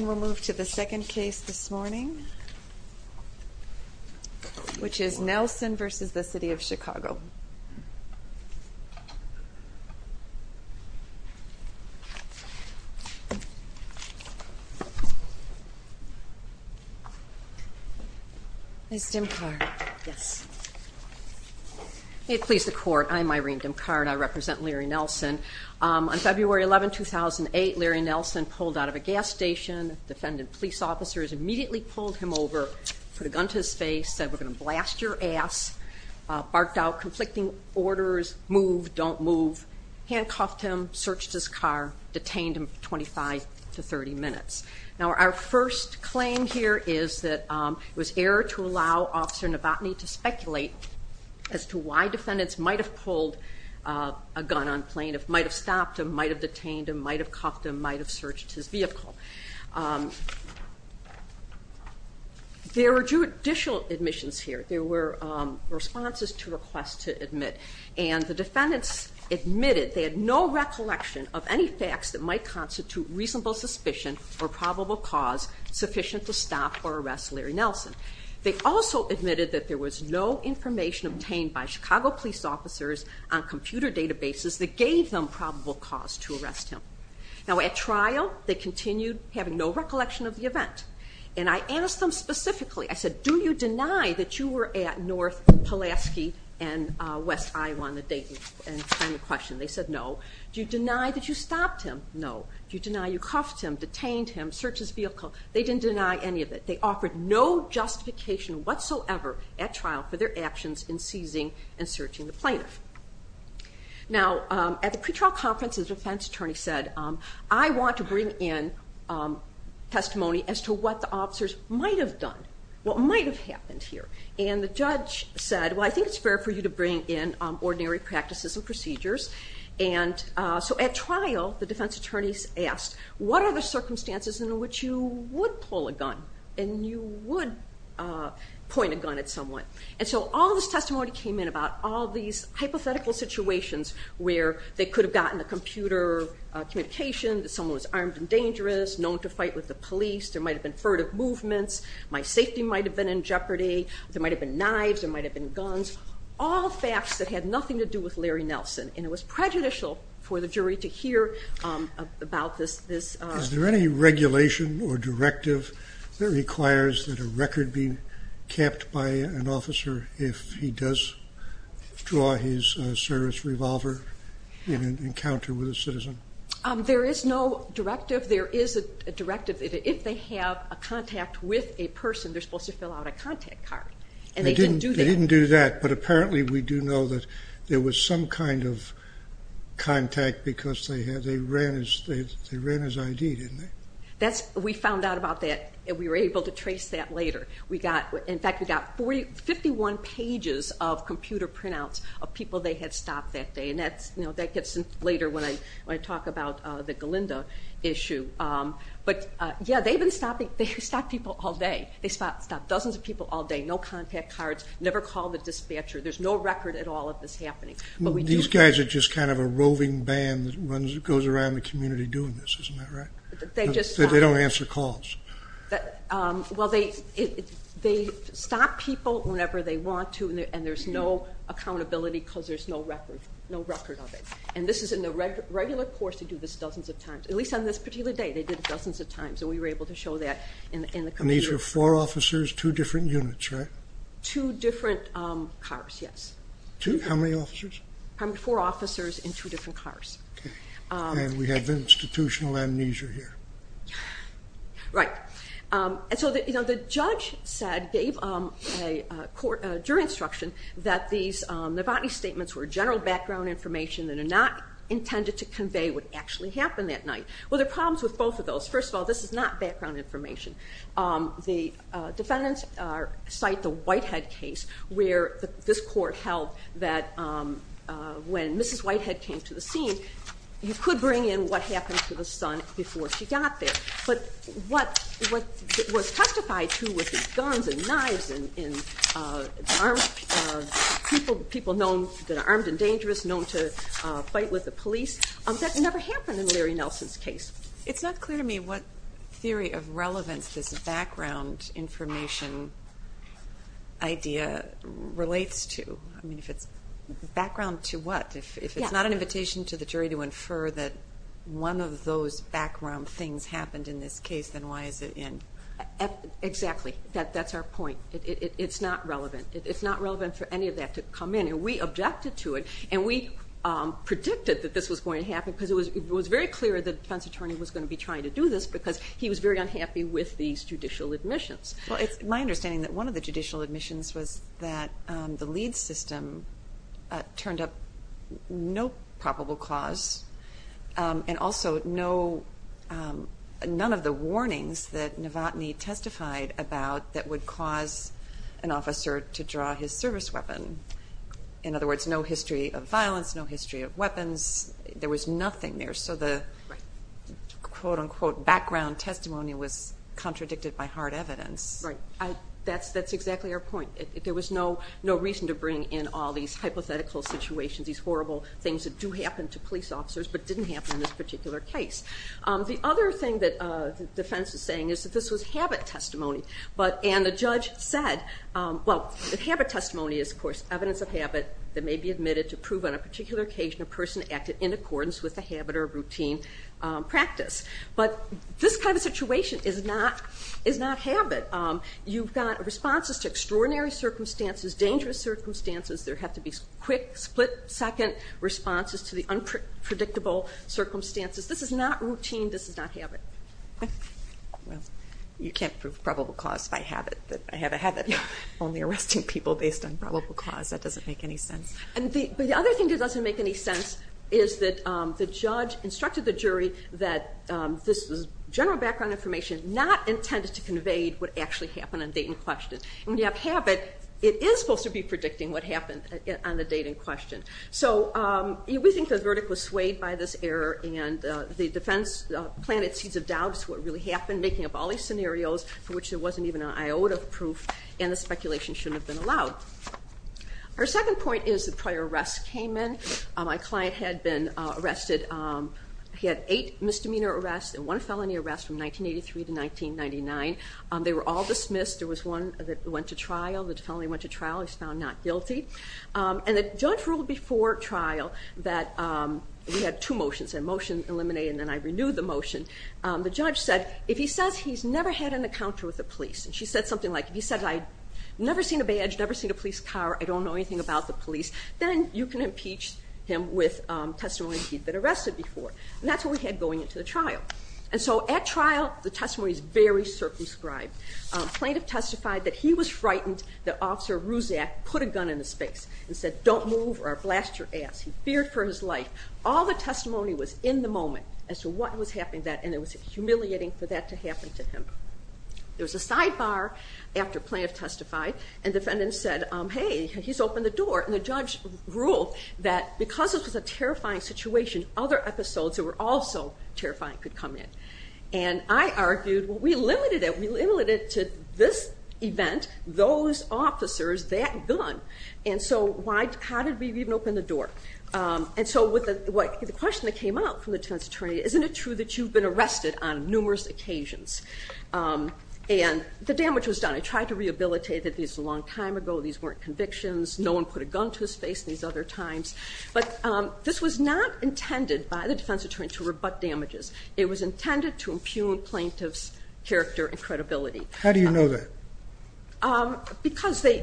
We'll move to the second case this morning, which is Nelson v. City of Chicago. May it please the Court, I'm Irene Dimcard. I represent Larry Nelson. On February 11, 2008, Larry Nelson pulled out of a gas station. Defendant police officers immediately pulled him over, put a gun to his face, said, we're going to blast your ass, barked out conflicting orders, move, don't move, handcuffed him, searched his car, detained him for 25 to 30 minutes. Now, our first claim here is that it was error to allow Officer Novotny to speculate as to why defendants might have pulled a gun on plain, might have stopped him, might have detained him, might have cuffed him, might have searched his vehicle. There were judicial admissions here. There were responses to requests to admit. And the defendants admitted they had no recollection of any facts that might constitute reasonable suspicion or probable cause sufficient to stop or arrest Larry Nelson. They also admitted that there was no information obtained by Chicago police officers on computer databases that gave them probable cause to arrest him. Now, at trial, they continued having no recollection of the event. And I asked them specifically, I said, do you deny that you were at North Pulaski and West Iowa on the date and time of question? They said no. Do you deny that you stopped him? No. Do you deny you cuffed him, detained him, searched his vehicle? They didn't deny any of it. They offered no justification whatsoever at trial for their actions in seizing and searching the plaintiff. Now, at the pretrial conference, the defense attorney said, I want to bring in testimony as to what the officers might have done, what might have happened here. And the judge said, well, I think it's fair for you to bring in ordinary practices and procedures. And so at trial, the defense attorneys asked, what are the circumstances in which you would pull a gun and you would point a gun at someone? And so all this testimony came in about all these hypothetical situations where they could have gotten a computer communication, that someone was armed and dangerous, known to fight with the police, there might have been furtive movements, my safety might have been in jeopardy, there might have been knives, there might have been guns, all facts that had nothing to do with Larry Nelson. And it was prejudicial for the jury to hear about this. Is there any regulation or directive that requires that a record be kept by an officer if he does draw his service revolver in an encounter with a citizen? There is no directive. There is a directive that if they have a contact with a person, they're supposed to fill out a contact card. And they didn't do that. But apparently we do know that there was some kind of contact because they ran his ID, didn't they? We found out about that. We were able to trace that later. In fact, we got 51 pages of computer printouts of people they had stopped that day. And that gets in later when I talk about the Galinda issue. But yeah, they stopped people all day. They stopped dozens of people all day, no contact cards, never called the dispatcher. There's no record at all of this happening. These guys are just kind of a roving band that goes around the community doing this. Isn't that right? They don't answer calls. Well, they stop people whenever they want to, and there's no accountability because there's no record of it. And this is in the regular course. They do this dozens of times. At least on this particular day, they did it dozens of times. And we were able to show that in the computer. And these were four officers, two different units, right? Two different cars, yes. How many officers? Four officers in two different cars. And we have institutional amnesia here. Right. And so the judge said, gave a jury instruction, that these Novotny statements were general background information that are not intended to convey what actually happened that night. Well, there are problems with both of those. First of all, this is not background information. The defendants cite the Whitehead case, where this court held that when Mrs. Whitehead came to the scene, you could bring in what happened to the son before she got there. But what was testified to with these guns and knives and people that are armed and dangerous, known to fight with the police, that never happened in Larry Nelson's case. It's not clear to me what theory of relevance this background information idea relates to. I mean, if it's background to what? If it's not an invitation to the jury to infer that one of those background things happened in this case, then why is it in? Exactly. That's our point. It's not relevant. It's not relevant for any of that to come in. And we objected to it, and we predicted that this was going to happen because it was very clear the defense attorney was going to be trying to do this because he was very unhappy with these judicial admissions. Well, it's my understanding that one of the judicial admissions was that the LEADS system turned up no probable cause and also none of the warnings that Novotny testified about that would cause an officer to draw his service weapon. There was nothing there, so the quote-unquote background testimony was contradicted by hard evidence. Right. That's exactly our point. There was no reason to bring in all these hypothetical situations, these horrible things that do happen to police officers but didn't happen in this particular case. The other thing that the defense is saying is that this was habit testimony, and the judge said, well, the habit testimony is, of course, evidence of habit that may be admitted to prove on a particular occasion a person acted in accordance with a habit or a routine practice. But this kind of situation is not habit. You've got responses to extraordinary circumstances, dangerous circumstances. There have to be quick, split-second responses to the unpredictable circumstances. This is not routine. This is not habit. Well, you can't prove probable cause by habit. I have a habit of only arresting people based on probable cause. That doesn't make any sense. But the other thing that doesn't make any sense is that the judge instructed the jury that this was general background information not intended to convey what actually happened on date in question. When you have habit, it is supposed to be predicting what happened on the date in question. So we think the verdict was swayed by this error, and the defense planted seeds of doubt as to what really happened, making up all these scenarios for which there wasn't even an iota of proof, and the speculation shouldn't have been allowed. Our second point is that prior arrests came in. My client had been arrested. He had eight misdemeanor arrests and one felony arrest from 1983 to 1999. They were all dismissed. There was one that went to trial. The felony went to trial. He was found not guilty. And the judge ruled before trial that we had two motions, a motion eliminated and then I renewed the motion. The judge said, if he says he's never had an encounter with the police, and she said something like, if he says I've never seen a badge, never seen a police car, I don't know anything about the police, then you can impeach him with testimony that he'd been arrested before. And that's what we had going into the trial. And so at trial, the testimony is very circumscribed. Plaintiff testified that he was frightened that Officer Ruzak put a gun in his face and said, don't move or I'll blast your ass. He feared for his life. All the testimony was in the moment as to what was happening then, and it was humiliating for that to happen to him. There was a sidebar after plaintiff testified, and defendant said, hey, he's opened the door. And the judge ruled that because this was a terrifying situation, other episodes that were also terrifying could come in. And I argued, well, we limited it. We limited it to this event, those officers, that gun. And so how did we even open the door? And so the question that came out from the defense attorney, isn't it true that you've been arrested on numerous occasions? And the damage was done. I tried to rehabilitate that this was a long time ago. These weren't convictions. No one put a gun to his face in these other times. But this was not intended by the defense attorney to rebut damages. It was intended to impugn plaintiff's character and credibility. How do you know that? Because they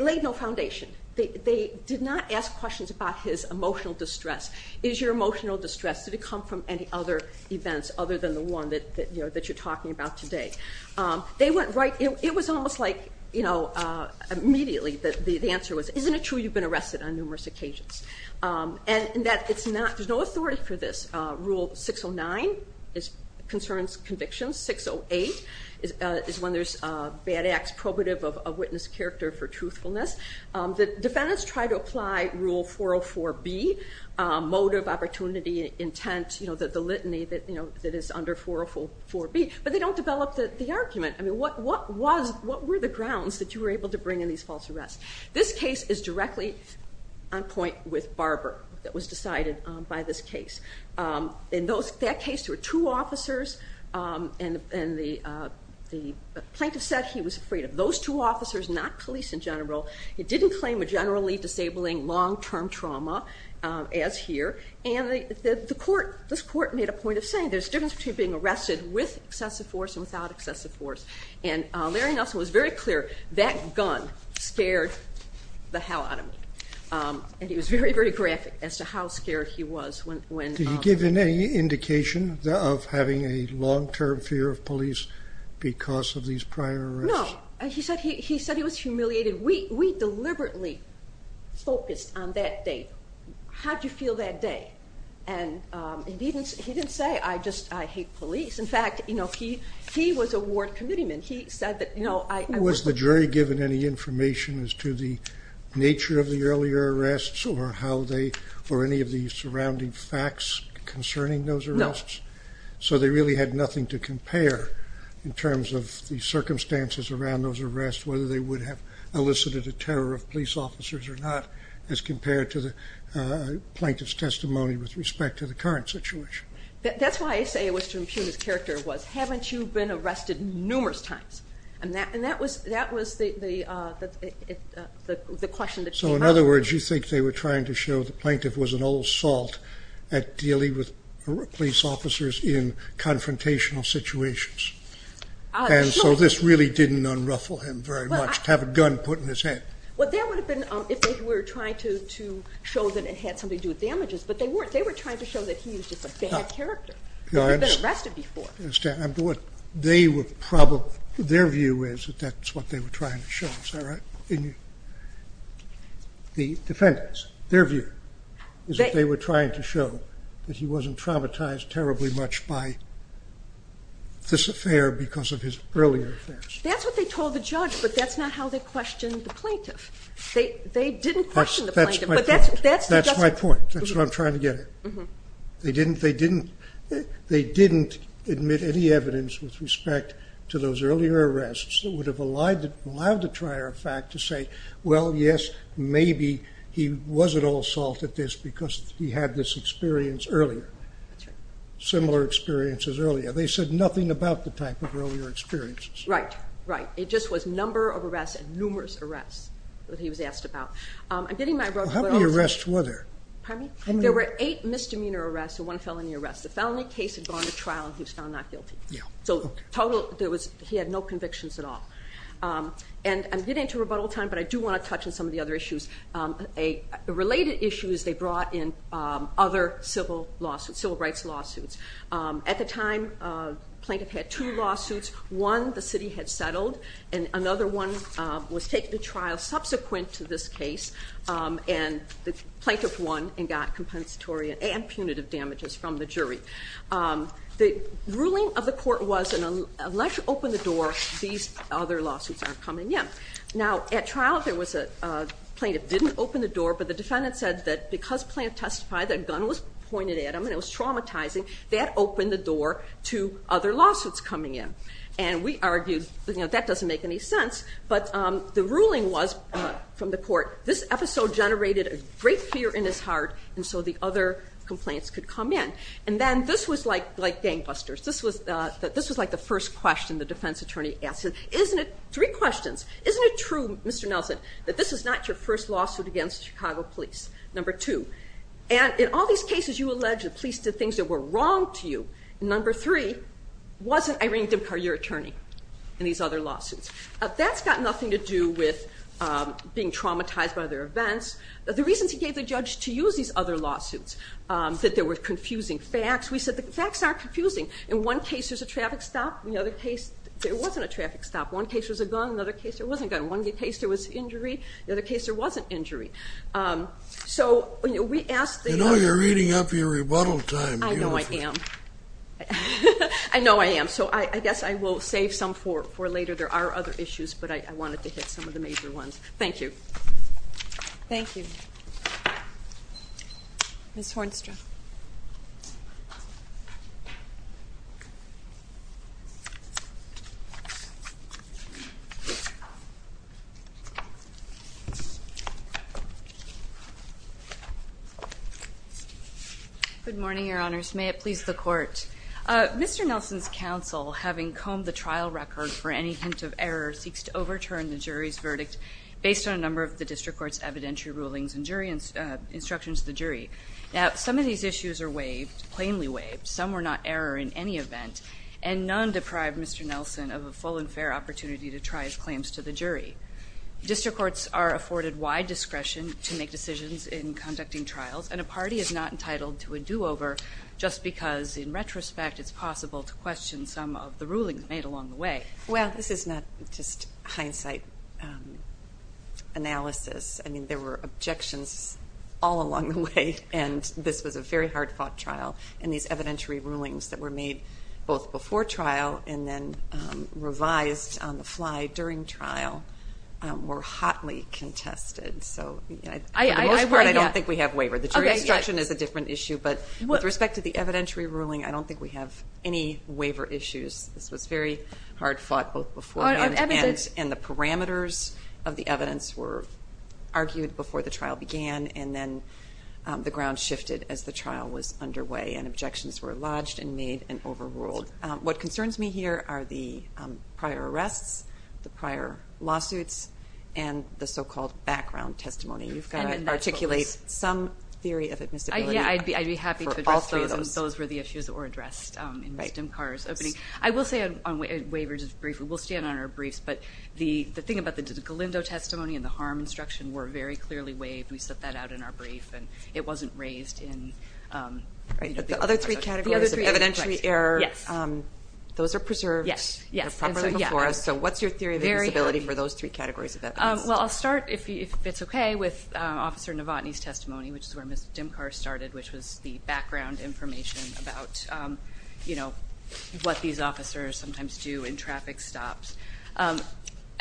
laid no foundation. They did not ask questions about his emotional distress. Is your emotional distress, did it come from any other events other than the one that you're talking about today? It was almost like immediately the answer was, isn't it true you've been arrested on numerous occasions? And that there's no authority for this. Rule 609 concerns convictions. 608 is when there's bad acts probative of a witness character for truthfulness. Defendants try to apply Rule 404B, motive, opportunity, intent, the litany that is under 404B, but they don't develop the argument. What were the grounds that you were able to bring in these false arrests? This case is directly on point with Barber that was decided by this case. In that case there were two officers, and the plaintiff said he was afraid of those two officers, not police in general. He didn't claim a generally disabling long-term trauma, as here, and this court made a point of saying there's a difference between being arrested with excessive force and without excessive force. And Larry Nelson was very clear, that gun scared the hell out of me. And he was very, very graphic as to how scared he was. Did he give any indication of having a long-term fear of police because of these prior arrests? No. He said he was humiliated. We deliberately focused on that day. How did you feel that day? And he didn't say, I hate police. In fact, he was a ward committeeman. Was the jury given any information as to the nature of the earlier arrests or any of the surrounding facts concerning those arrests? No. So they really had nothing to compare in terms of the circumstances around those arrests, whether they would have elicited a terror of police officers or not, as compared to the plaintiff's testimony with respect to the current situation. That's why I say it was to impugn his character, was haven't you been arrested numerous times? And that was the question that came up. So in other words, you think they were trying to show the plaintiff was an old salt at dealing with police officers in confrontational situations. And so this really didn't unruffle him very much, to have a gun put in his head. Well, that would have been if they were trying to show that it had something to do with damages. But they weren't. They were trying to show that he was just a bad character, that he had been arrested before. I understand. Their view is that that's what they were trying to show. Is that right? The defendants, their view is that they were trying to show that he wasn't traumatized terribly much by this affair because of his earlier affairs. That's what they told the judge, but that's not how they questioned the plaintiff. They didn't question the plaintiff. That's my point. That's what I'm trying to get at. They didn't admit any evidence with respect to those earlier arrests that would have allowed the trier of fact to say, well, yes, maybe he wasn't all salt at this because he had this experience earlier. That's right. Similar experiences earlier. They said nothing about the type of earlier experiences. Right, right. It just was number of arrests and numerous arrests that he was asked about. How many arrests were there? Pardon me? There were eight misdemeanor arrests and one felony arrest. The felony case had gone to trial and he was found not guilty. He had no convictions at all. I'm getting into rebuttal time, but I do want to touch on some of the other issues. A related issue is they brought in other civil rights lawsuits. At the time, the plaintiff had two lawsuits. One, the city had settled, and another one was taken to trial subsequent to this case, and the plaintiff won and got compensatory and punitive damages from the jury. The ruling of the court was, unless you open the door, these other lawsuits aren't coming in. Now, at trial, there was a plaintiff who didn't open the door, but the defendant said that because Plante testified, a gun was pointed at him and it was traumatizing, that opened the door to other lawsuits coming in. And we argued, you know, that doesn't make any sense, but the ruling was from the court, this episode generated a great fear in his heart and so the other complaints could come in. And then this was like gangbusters. This was like the first question the defense attorney asked him. Three questions. Isn't it true, Mr. Nelson, that this is not your first lawsuit against Chicago police, number two? And in all these cases you allege the police did things that were wrong to you. Number three, wasn't Irene Dimkar your attorney in these other lawsuits? That's got nothing to do with being traumatized by their events. The reasons he gave the judge to use these other lawsuits, that there were confusing facts. We said the facts aren't confusing. In one case there's a traffic stop, in the other case there wasn't a traffic stop. One case there was a gun, in the other case there wasn't a gun. In one case there was injury, in the other case there wasn't injury. So we asked the judge... You know, you're eating up your rebuttal time. I know I am. I know I am, so I guess I will save some for later. There are other issues, but I wanted to hit some of the major ones. Thank you. Thank you. Ms. Hornstra. Good morning, Your Honors. May it please the Court. Mr. Nelson's counsel, having combed the trial record for any hint of error, based on a number of the district court's evidentiary rulings and instructions to the jury. Now, some of these issues are waived, plainly waived. Some were not error in any event, and none deprived Mr. Nelson of a full and fair opportunity to try his claims to the jury. District courts are afforded wide discretion to make decisions in conducting trials, and a party is not entitled to a do-over just because, in retrospect, it's possible to question some of the rulings made along the way. Well, this is not just hindsight analysis. I mean, there were objections all along the way, and this was a very hard-fought trial, and these evidentiary rulings that were made both before trial and then revised on the fly during trial were hotly contested. So for the most part, I don't think we have waiver. The jury instruction is a different issue, but with respect to the evidentiary ruling, I don't think we have any waiver issues. This was very hard-fought both beforehand, and the parameters of the evidence were argued before the trial began, and then the ground shifted as the trial was underway, and objections were lodged and made and overruled. What concerns me here are the prior arrests, the prior lawsuits, and the so-called background testimony. You've got to articulate some theory of admissibility for all three of those. Yeah, I'd be happy to address those, because those were the issues that were addressed in Ms. Dimkar's opening. I will say on waiver, just briefly, we'll stand on our briefs, but the thing about the Galindo testimony and the harm instruction were very clearly waived, and we set that out in our brief, and it wasn't raised in the open court session. The other three categories of evidentiary error, those are preserved properly before us. So what's your theory of admissibility for those three categories of evidence? Well, I'll start, if it's okay, with Officer Novotny's testimony, which is where Ms. Dimkar started, which was the background information about, you know, what these officers sometimes do in traffic stops.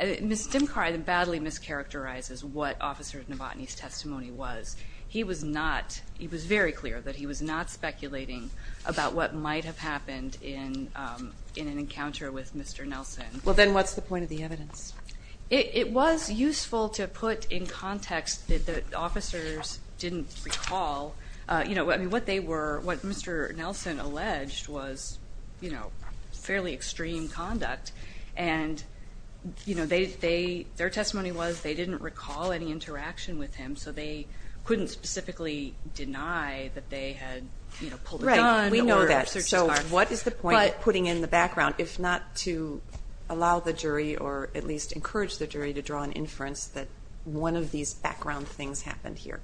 Ms. Dimkar badly mischaracterizes what Officer Novotny's testimony was. He was notóhe was very clear that he was not speculating about what might have happened in an encounter with Mr. Nelson. Well, then what's the point of the evidence? It was useful to put in context that the officers didn't recallóyou know, I mean, what they wereówhat Mr. Nelson alleged was, you know, fairly extreme conduct. And, you know, theyótheir testimony was they didn't recall any interaction with him, so they couldn't specifically deny that they had, you know, pulled a gunó Right. We know that. So what is the point of putting in the background, if not to allow the jury or at least encourage the jury to draw an inference that one of these background things happened here?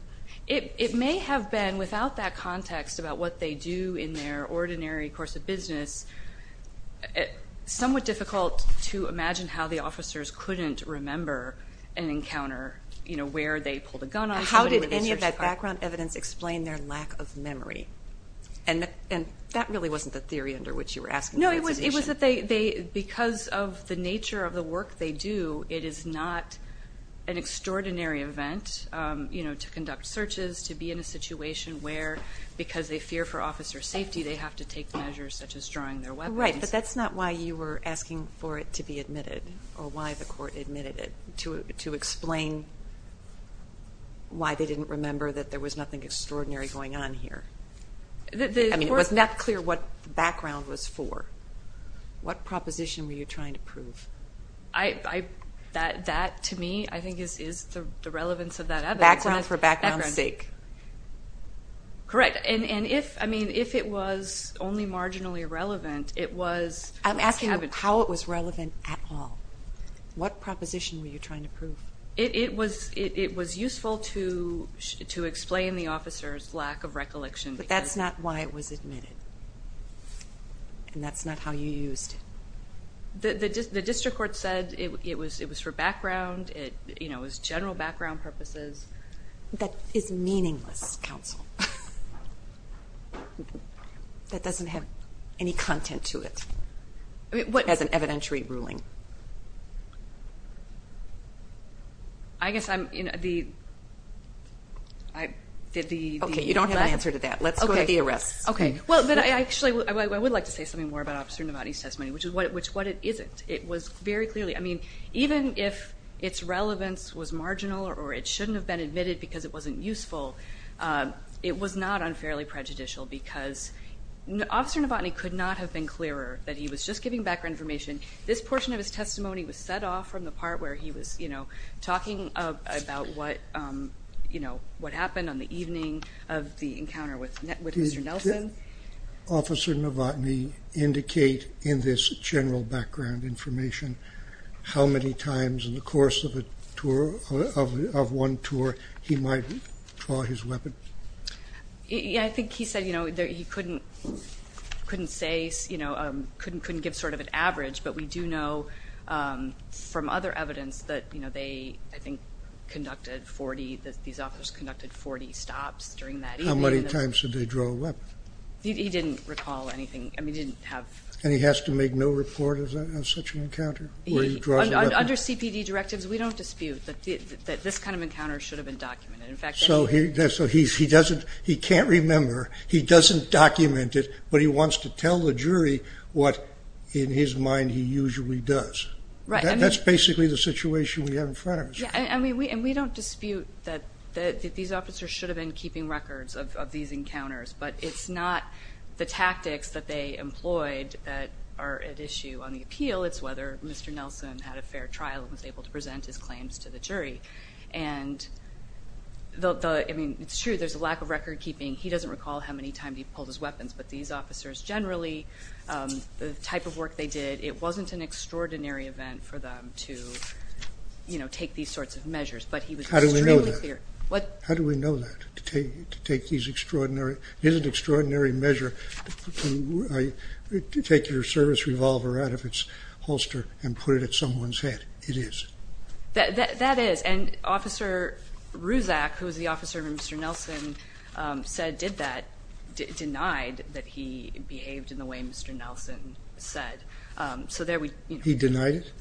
It may have been, without that context about what they do in their ordinary course of business, somewhat difficult to imagine how the officers couldn't remember an encounter, you know, where they pulled a gun on somebodyó Now, how did any of that background evidence explain their lack of memory? No, it was that theyóbecause of the nature of the work they do, it is not an extraordinary event, you know, to conduct searches, to be in a situation where, because they fear for officer safety, they have to take measures such as drawing their weapons. Right, but that's not why you were asking for it to be admitted or why the court admitted it, to explain why they didn't remember that there was nothing extraordinary going on here. I mean, it was not clear what the background was for. What proposition were you trying to prove? That, to me, I think is the relevance of that evidence. Background for background's sake. Correct. And if, I mean, if it was only marginally relevant, it wasó I'm asking how it was relevant at all. What proposition were you trying to prove? It was useful to explain the officer's lack of recollection. But that's not why it was admitted, and that's not how you used it. The district court said it was for background, you know, it was general background purposes. That is meaningless, counsel. That doesn't have any content to it. As an evidentiary ruling. I guess I'mó Okay, you don't have an answer to that. Let's go to the arrests. Okay. Well, actually, I would like to say something more about Officer Novotny's testimony, which is what it isn't. It was very clearlyóI mean, even if its relevance was marginal or it shouldn't have been admitted because it wasn't useful, it was not unfairly prejudicial because Officer Novotny could not have been clearer that he was just giving background information. This portion of his testimony was set off from the part where he was, you know, talking about what happened on the evening of the encounter with Mr. Nelson. Did Officer Novotny indicate in this general background information how many times in the course of one tour he might draw his weapon? Yeah, I think he said, you know, he couldn't sayóyou know, couldn't give sort of an average, but we do know from other evidence that, you know, they, I think, conducted 40óthese officers conducted 40 stops during that evening. How many times did they draw a weapon? He didn't recall anything. I mean, he didn't haveó And he has to make no report of such an encounter where he draws a weapon? Under CPD directives, we don't dispute that this kind of encounter should have been documented. In factó So he doesn'tóhe can't remember, he doesn't document it, but he wants to tell the jury what, in his mind, he usually does. Right. That's basically the situation we have in front of us. Yeah, and we don't dispute that these officers should have been keeping records of these encounters, but it's not the tactics that they employed that are at issue on the appeal. It's whether Mr. Nelson had a fair trial and was able to present his claims to the jury. And theóI mean, it's true there's a lack of record-keeping. He doesn't recall how many times he pulled his weapons, but these officers generally, the type of work they did, it wasn't an extraordinary event for them to, you know, take these sorts of measures. But he was extremely clearó How do we know that? Wható How do we know that, to take these extraordinaryó it is an extraordinary measure to take your service revolver out of its holster and put it at someone's head. It is. That is. And Officer Ruzak, who was the officer Mr. Nelson said did that, denied that he behaved in the way Mr. Nelson said. So there weó He denied it?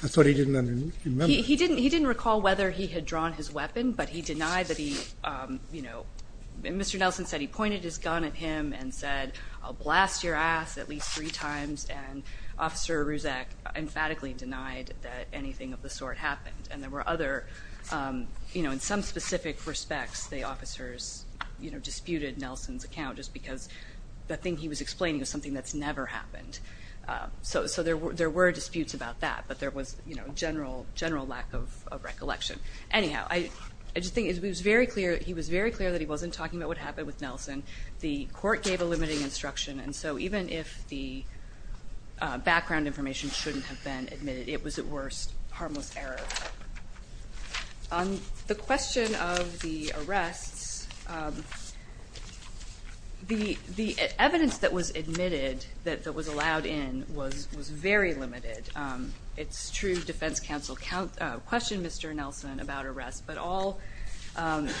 I thought he didn't remember. He didn't recall whether he had drawn his weapon, but he denied that he, you knowó Mr. Nelson said he pointed his gun at him and said, I'll blast your ass at least three times, and Officer Ruzak emphatically denied that anything of the sort happened. And there were otheró You know, in some specific respects the officers, you know, disputed Nelson's account just because the thing he was explaining was something that's never happened. So there were disputes about that, but there was, you know, general lack of recollection. Anyhow, I just think it was very clearó He was very clear that he wasn't talking about what happened with Nelson. The court gave a limiting instruction, and so even if the background information shouldn't have been admitted, it was at worst harmless error. On the question of the arrests, the evidence that was admitted that was allowed in was very limited. It's true defense counsel questioned Mr. Nelson about arrests, but all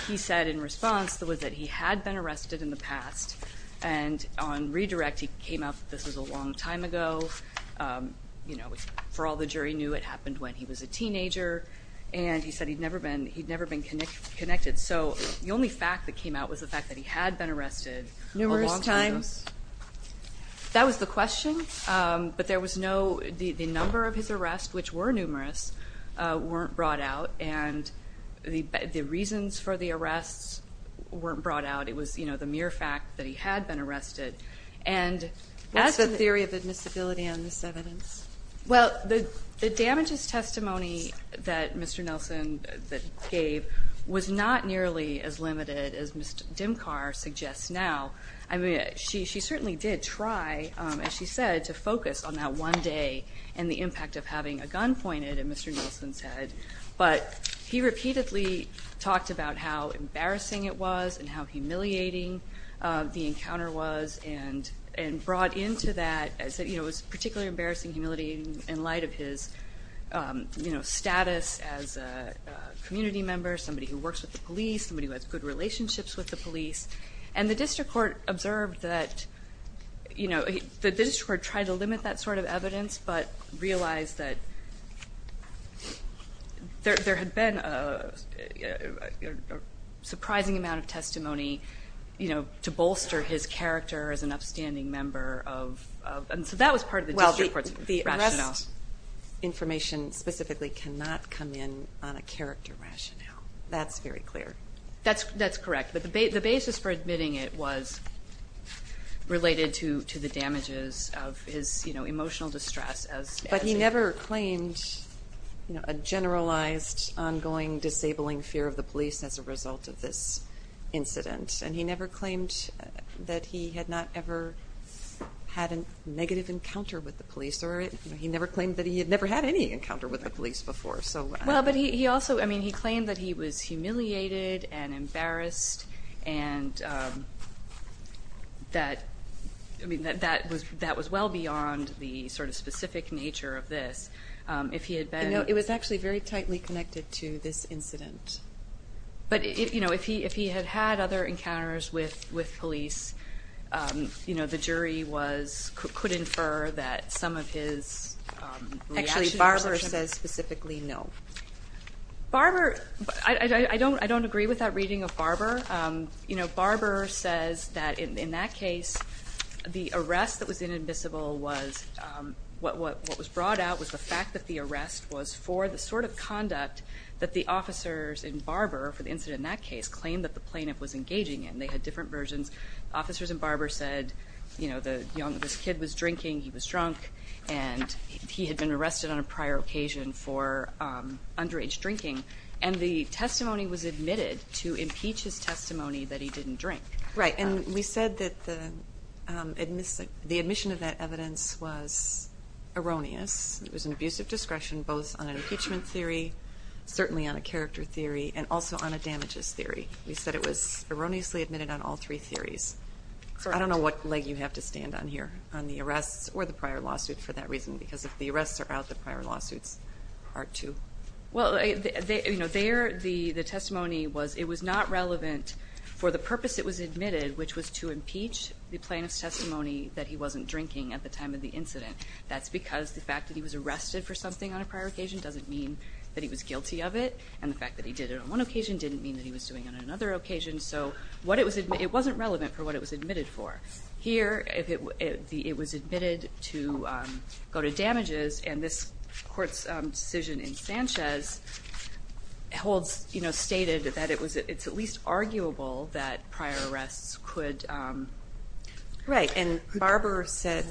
he said in response was that he had been arrested in the past, and on redirect he came out that this was a long time ago. You know, for all the jury knew, it happened when he was a teenager, and he said he'd never been connected. So the only fact that came out was the fact that he had been arrested. Numerous times? That was the question, but there was noó The number of his arrests, which were numerous, weren't brought out, and the reasons for the arrests weren't brought out. It was the mere fact that he had been arrested. What's the theory of admissibility on this evidence? Well, the damages testimony that Mr. Nelson gave was not nearly as limited as Ms. Dimkar suggests now. I mean, she certainly did try, as she said, to focus on that one day and the impact of having a gun pointed in Mr. Nelson's head, but he repeatedly talked about how embarrassing it was and how humiliating the encounter was, and brought into thatóit was particularly embarrassing and humiliating in light of his status as a community member, somebody who works with the police, somebody who has good relationships with the police, and the district court observed tható the district court tried to limit that sort of evidence, but realized that there had been a surprising amount of testimony to bolster his character as an upstanding member ofó and so that was part of the district court's rationale. Well, the arrest information specifically cannot come in on a character rationale. That's very clear. That's correct, but the basis for admitting it was related to the damages of his emotional distress asó But he never claimed a generalized, ongoing, disabling fear of the police as a result of this incident, and he never claimed that he had not ever had a negative encounter with the police, or he never claimed that he had never had any encounter with the police before. Well, but he alsoóI mean, he claimed that he was humiliated and embarrassed and that was well beyond the sort of specific nature of this. If he had beenó No, it was actually very tightly connected to this incident. But if he had had other encounters with police, the jury could infer that some of his reactionsó Actually, Barber says specifically no. BarberóI don't agree with that reading of Barber. Barber says that in that case, the arrest that was inadmissible wasó what was brought out was the fact that the arrest was for the sort of conduct that the officers in Barber, for the incident in that case, claimed that the plaintiff was engaging in. They had different versions. Officers in Barber said this kid was drinking, he was drunk, and he had been arrested on a prior occasion for underage drinking, and the testimony was admitted to impeach his testimony that he didn't drink. Right, and we said that the admission of that evidence was erroneous. It was an abuse of discretion both on an impeachment theory, certainly on a character theory, and also on a damages theory. We said it was erroneously admitted on all three theories. I don't know what leg you have to stand on here, on the arrests or the prior lawsuit for that reason, because if the arrests are out, the prior lawsuits are too. Well, the testimony was it was not relevant for the purpose it was admitted, which was to impeach the plaintiff's testimony that he wasn't drinking at the time of the incident. That's because the fact that he was arrested for something on a prior occasion doesn't mean that he was guilty of it, and the fact that he did it on one occasion didn't mean that he was doing it on another occasion. So it wasn't relevant for what it was admitted for. Here, it was admitted to go to damages, and this Court's decision in Sanchez holds, you know, stated that it's at least arguable that prior arrests could... Right, and Barber said,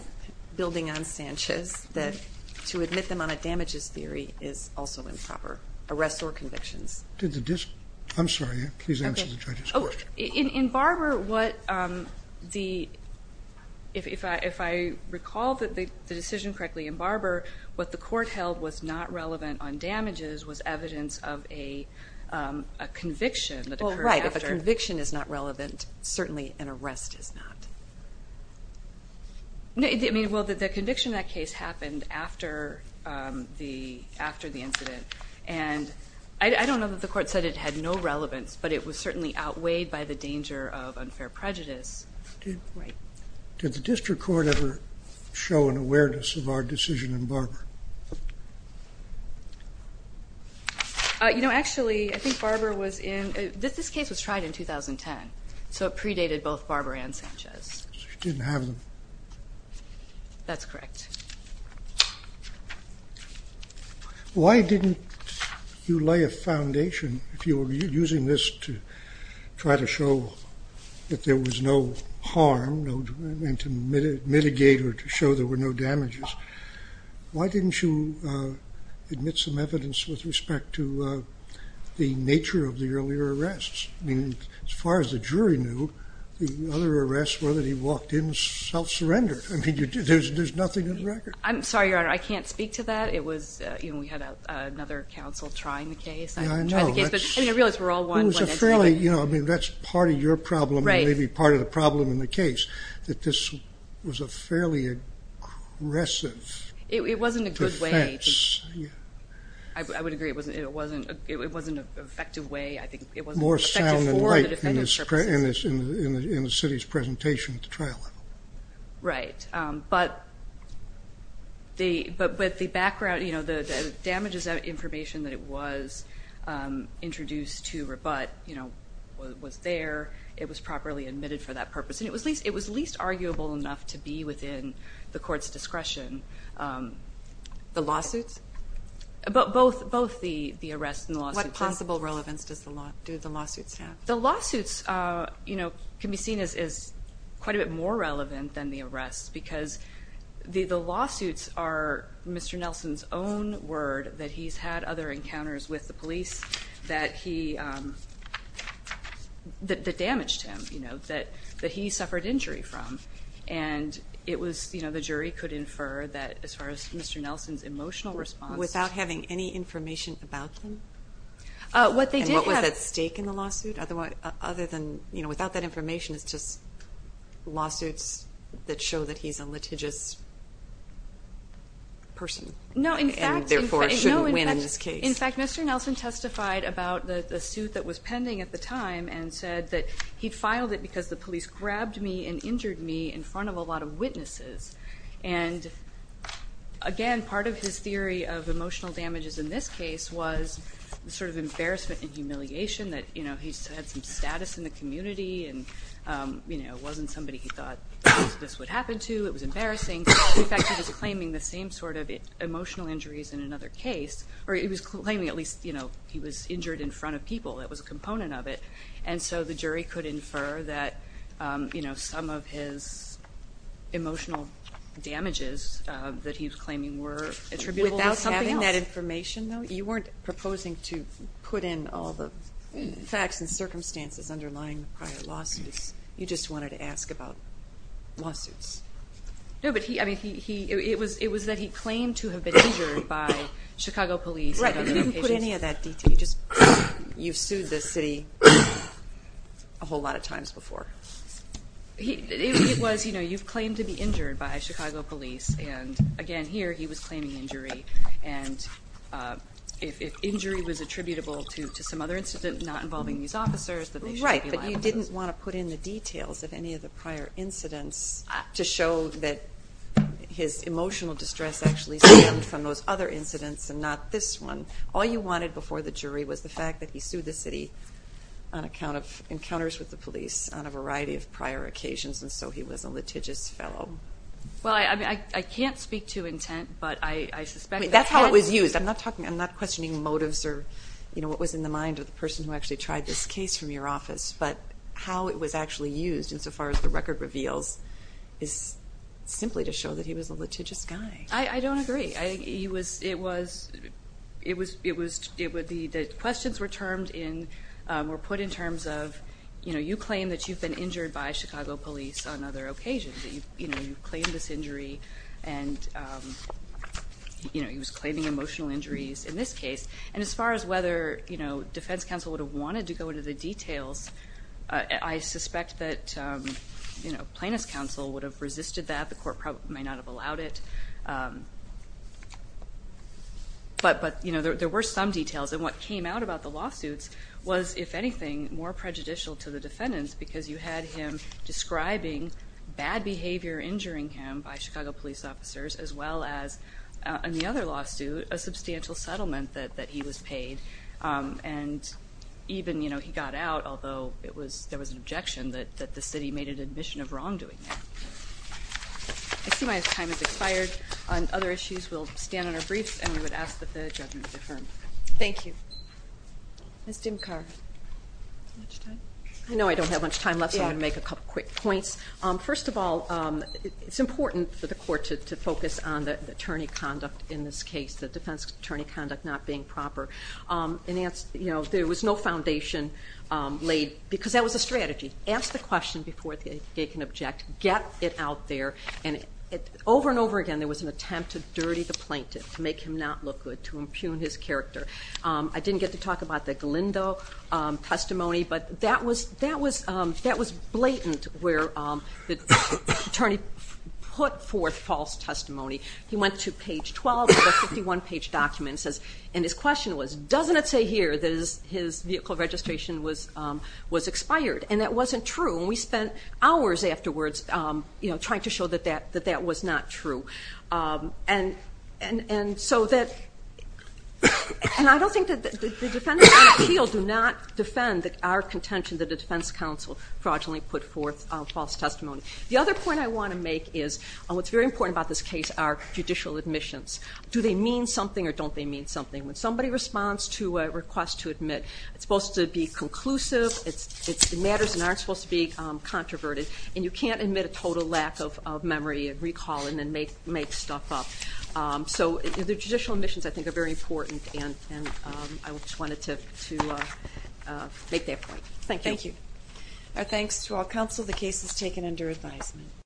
building on Sanchez, that to admit them on a damages theory is also improper, arrests or convictions. I'm sorry, please answer the judge's question. In Barber, if I recall the decision correctly, in Barber what the Court held was not relevant on damages was evidence of a conviction that occurred after. Well, right, if a conviction is not relevant, certainly an arrest is not. Well, the conviction in that case happened after the incident, and I don't know that the Court said it had no relevance, but it was certainly outweighed by the danger of unfair prejudice. Did the District Court ever show an awareness of our decision in Barber? You know, actually, I think Barber was in... This case was tried in 2010, so it predated both Barber and Sanchez. So you didn't have them. That's correct. Why didn't you lay a foundation, if you were using this to try to show that there was no harm, and to mitigate or to show there were no damages, why didn't you admit some evidence with respect to the nature of the earlier arrests? I mean, as far as the jury knew, the other arrests were that he walked in and self-surrendered. I mean, there's nothing in the record. I'm sorry, Your Honor, I can't speak to that. We had another counsel trying the case. Yeah, I know. I mean, I realize we're all one. That's part of your problem and maybe part of the problem in the case, that this was a fairly aggressive defense. It wasn't a good way. I would agree. It wasn't an effective way, I think. More sound and light in the city's presentation at the trial level. Right. But with the background, the damages information that it was introduced to rebut was there. It was properly admitted for that purpose. And it was least arguable enough to be within the court's discretion. The lawsuits? Both the arrests and the lawsuits. What possible relevance do the lawsuits have? The lawsuits can be seen as quite a bit more relevant than the arrests because the lawsuits are Mr. Nelson's own word that he's had other encounters with the police that damaged him, that he suffered injury from. And the jury could infer that as far as Mr. Nelson's emotional response. Without having any information about them? What they did have. Was that at stake in the lawsuit? Other than without that information, it's just lawsuits that show that he's a litigious person. No, in fact. And, therefore, shouldn't win in this case. In fact, Mr. Nelson testified about the suit that was pending at the time and said that he filed it because the police grabbed me and injured me in front of a lot of witnesses. And, again, part of his theory of emotional damages in this case was sort of embarrassment and humiliation that he had some status in the community and wasn't somebody he thought this would happen to. It was embarrassing. In fact, he was claiming the same sort of emotional injuries in another case. Or he was claiming at least he was injured in front of people. That was a component of it. And so the jury could infer that some of his emotional damages that he was claiming were attributable to having them. Given that information, though, you weren't proposing to put in all the facts and circumstances underlying the prior lawsuits. You just wanted to ask about lawsuits. No, but it was that he claimed to have been injured by Chicago police. Right, but you didn't put any of that detail. You've sued the city a whole lot of times before. It was you've claimed to be injured by Chicago police. And, again, here he was claiming injury. And if injury was attributable to some other incident not involving these officers, then they should be liable for it. Right, but you didn't want to put in the details of any of the prior incidents to show that his emotional distress actually stemmed from those other incidents and not this one. All you wanted before the jury was the fact that he sued the city on account of encounters with the police on a variety of prior occasions, and so he was a litigious fellow. Well, I can't speak to intent, but I suspect that had to be. That's how it was used. I'm not questioning motives or what was in the mind of the person who actually tried this case from your office. But how it was actually used, insofar as the record reveals, is simply to show that he was a litigious guy. I don't agree. The questions were put in terms of you claim that you've been injured by Chicago police on other occasions, that you've claimed this injury and he was claiming emotional injuries in this case. And as far as whether defense counsel would have wanted to go into the details, I suspect that plaintiff's counsel would have resisted that. The court may not have allowed it. But there were some details, and what came out about the lawsuits was, if anything, more prejudicial to the defendants because you had him describing bad behavior injuring him by Chicago police officers, as well as, in the other lawsuit, a substantial settlement that he was paid. And even he got out, although there was an objection that the city made an admission of wrongdoing there. I see my time has expired. On other issues, we'll stand on our briefs, and we would ask that the judgment be affirmed. Thank you. Ms. Dimkar, do you have much time? I know I don't have much time left, so I'm going to make a couple quick points. First of all, it's important for the court to focus on the attorney conduct in this case, the defense attorney conduct not being proper. There was no foundation laid because that was a strategy. Ask the question before they can object. Get it out there. And over and over again, there was an attempt to dirty the plaintiff, to make him not look good, to impugn his character. I didn't get to talk about the Galindo testimony, but that was blatant where the attorney put forth false testimony. He went to page 12 of a 51-page document and his question was, doesn't it say here that his vehicle registration was expired? And that wasn't true, and we spent hours afterwards trying to show that that was not true. And so that – and I don't think that the defendants on the field do not defend our contention that the defense counsel fraudulently put forth false testimony. The other point I want to make is what's very important about this case are judicial admissions. Do they mean something or don't they mean something? When somebody responds to a request to admit, it's supposed to be conclusive, it matters and aren't supposed to be controverted, and you can't admit a total lack of memory and recall and then make stuff up. So the judicial admissions, I think, are very important, and I just wanted to make that point. Thank you. Thank you. Our thanks to all counsel. The case is taken under advisement.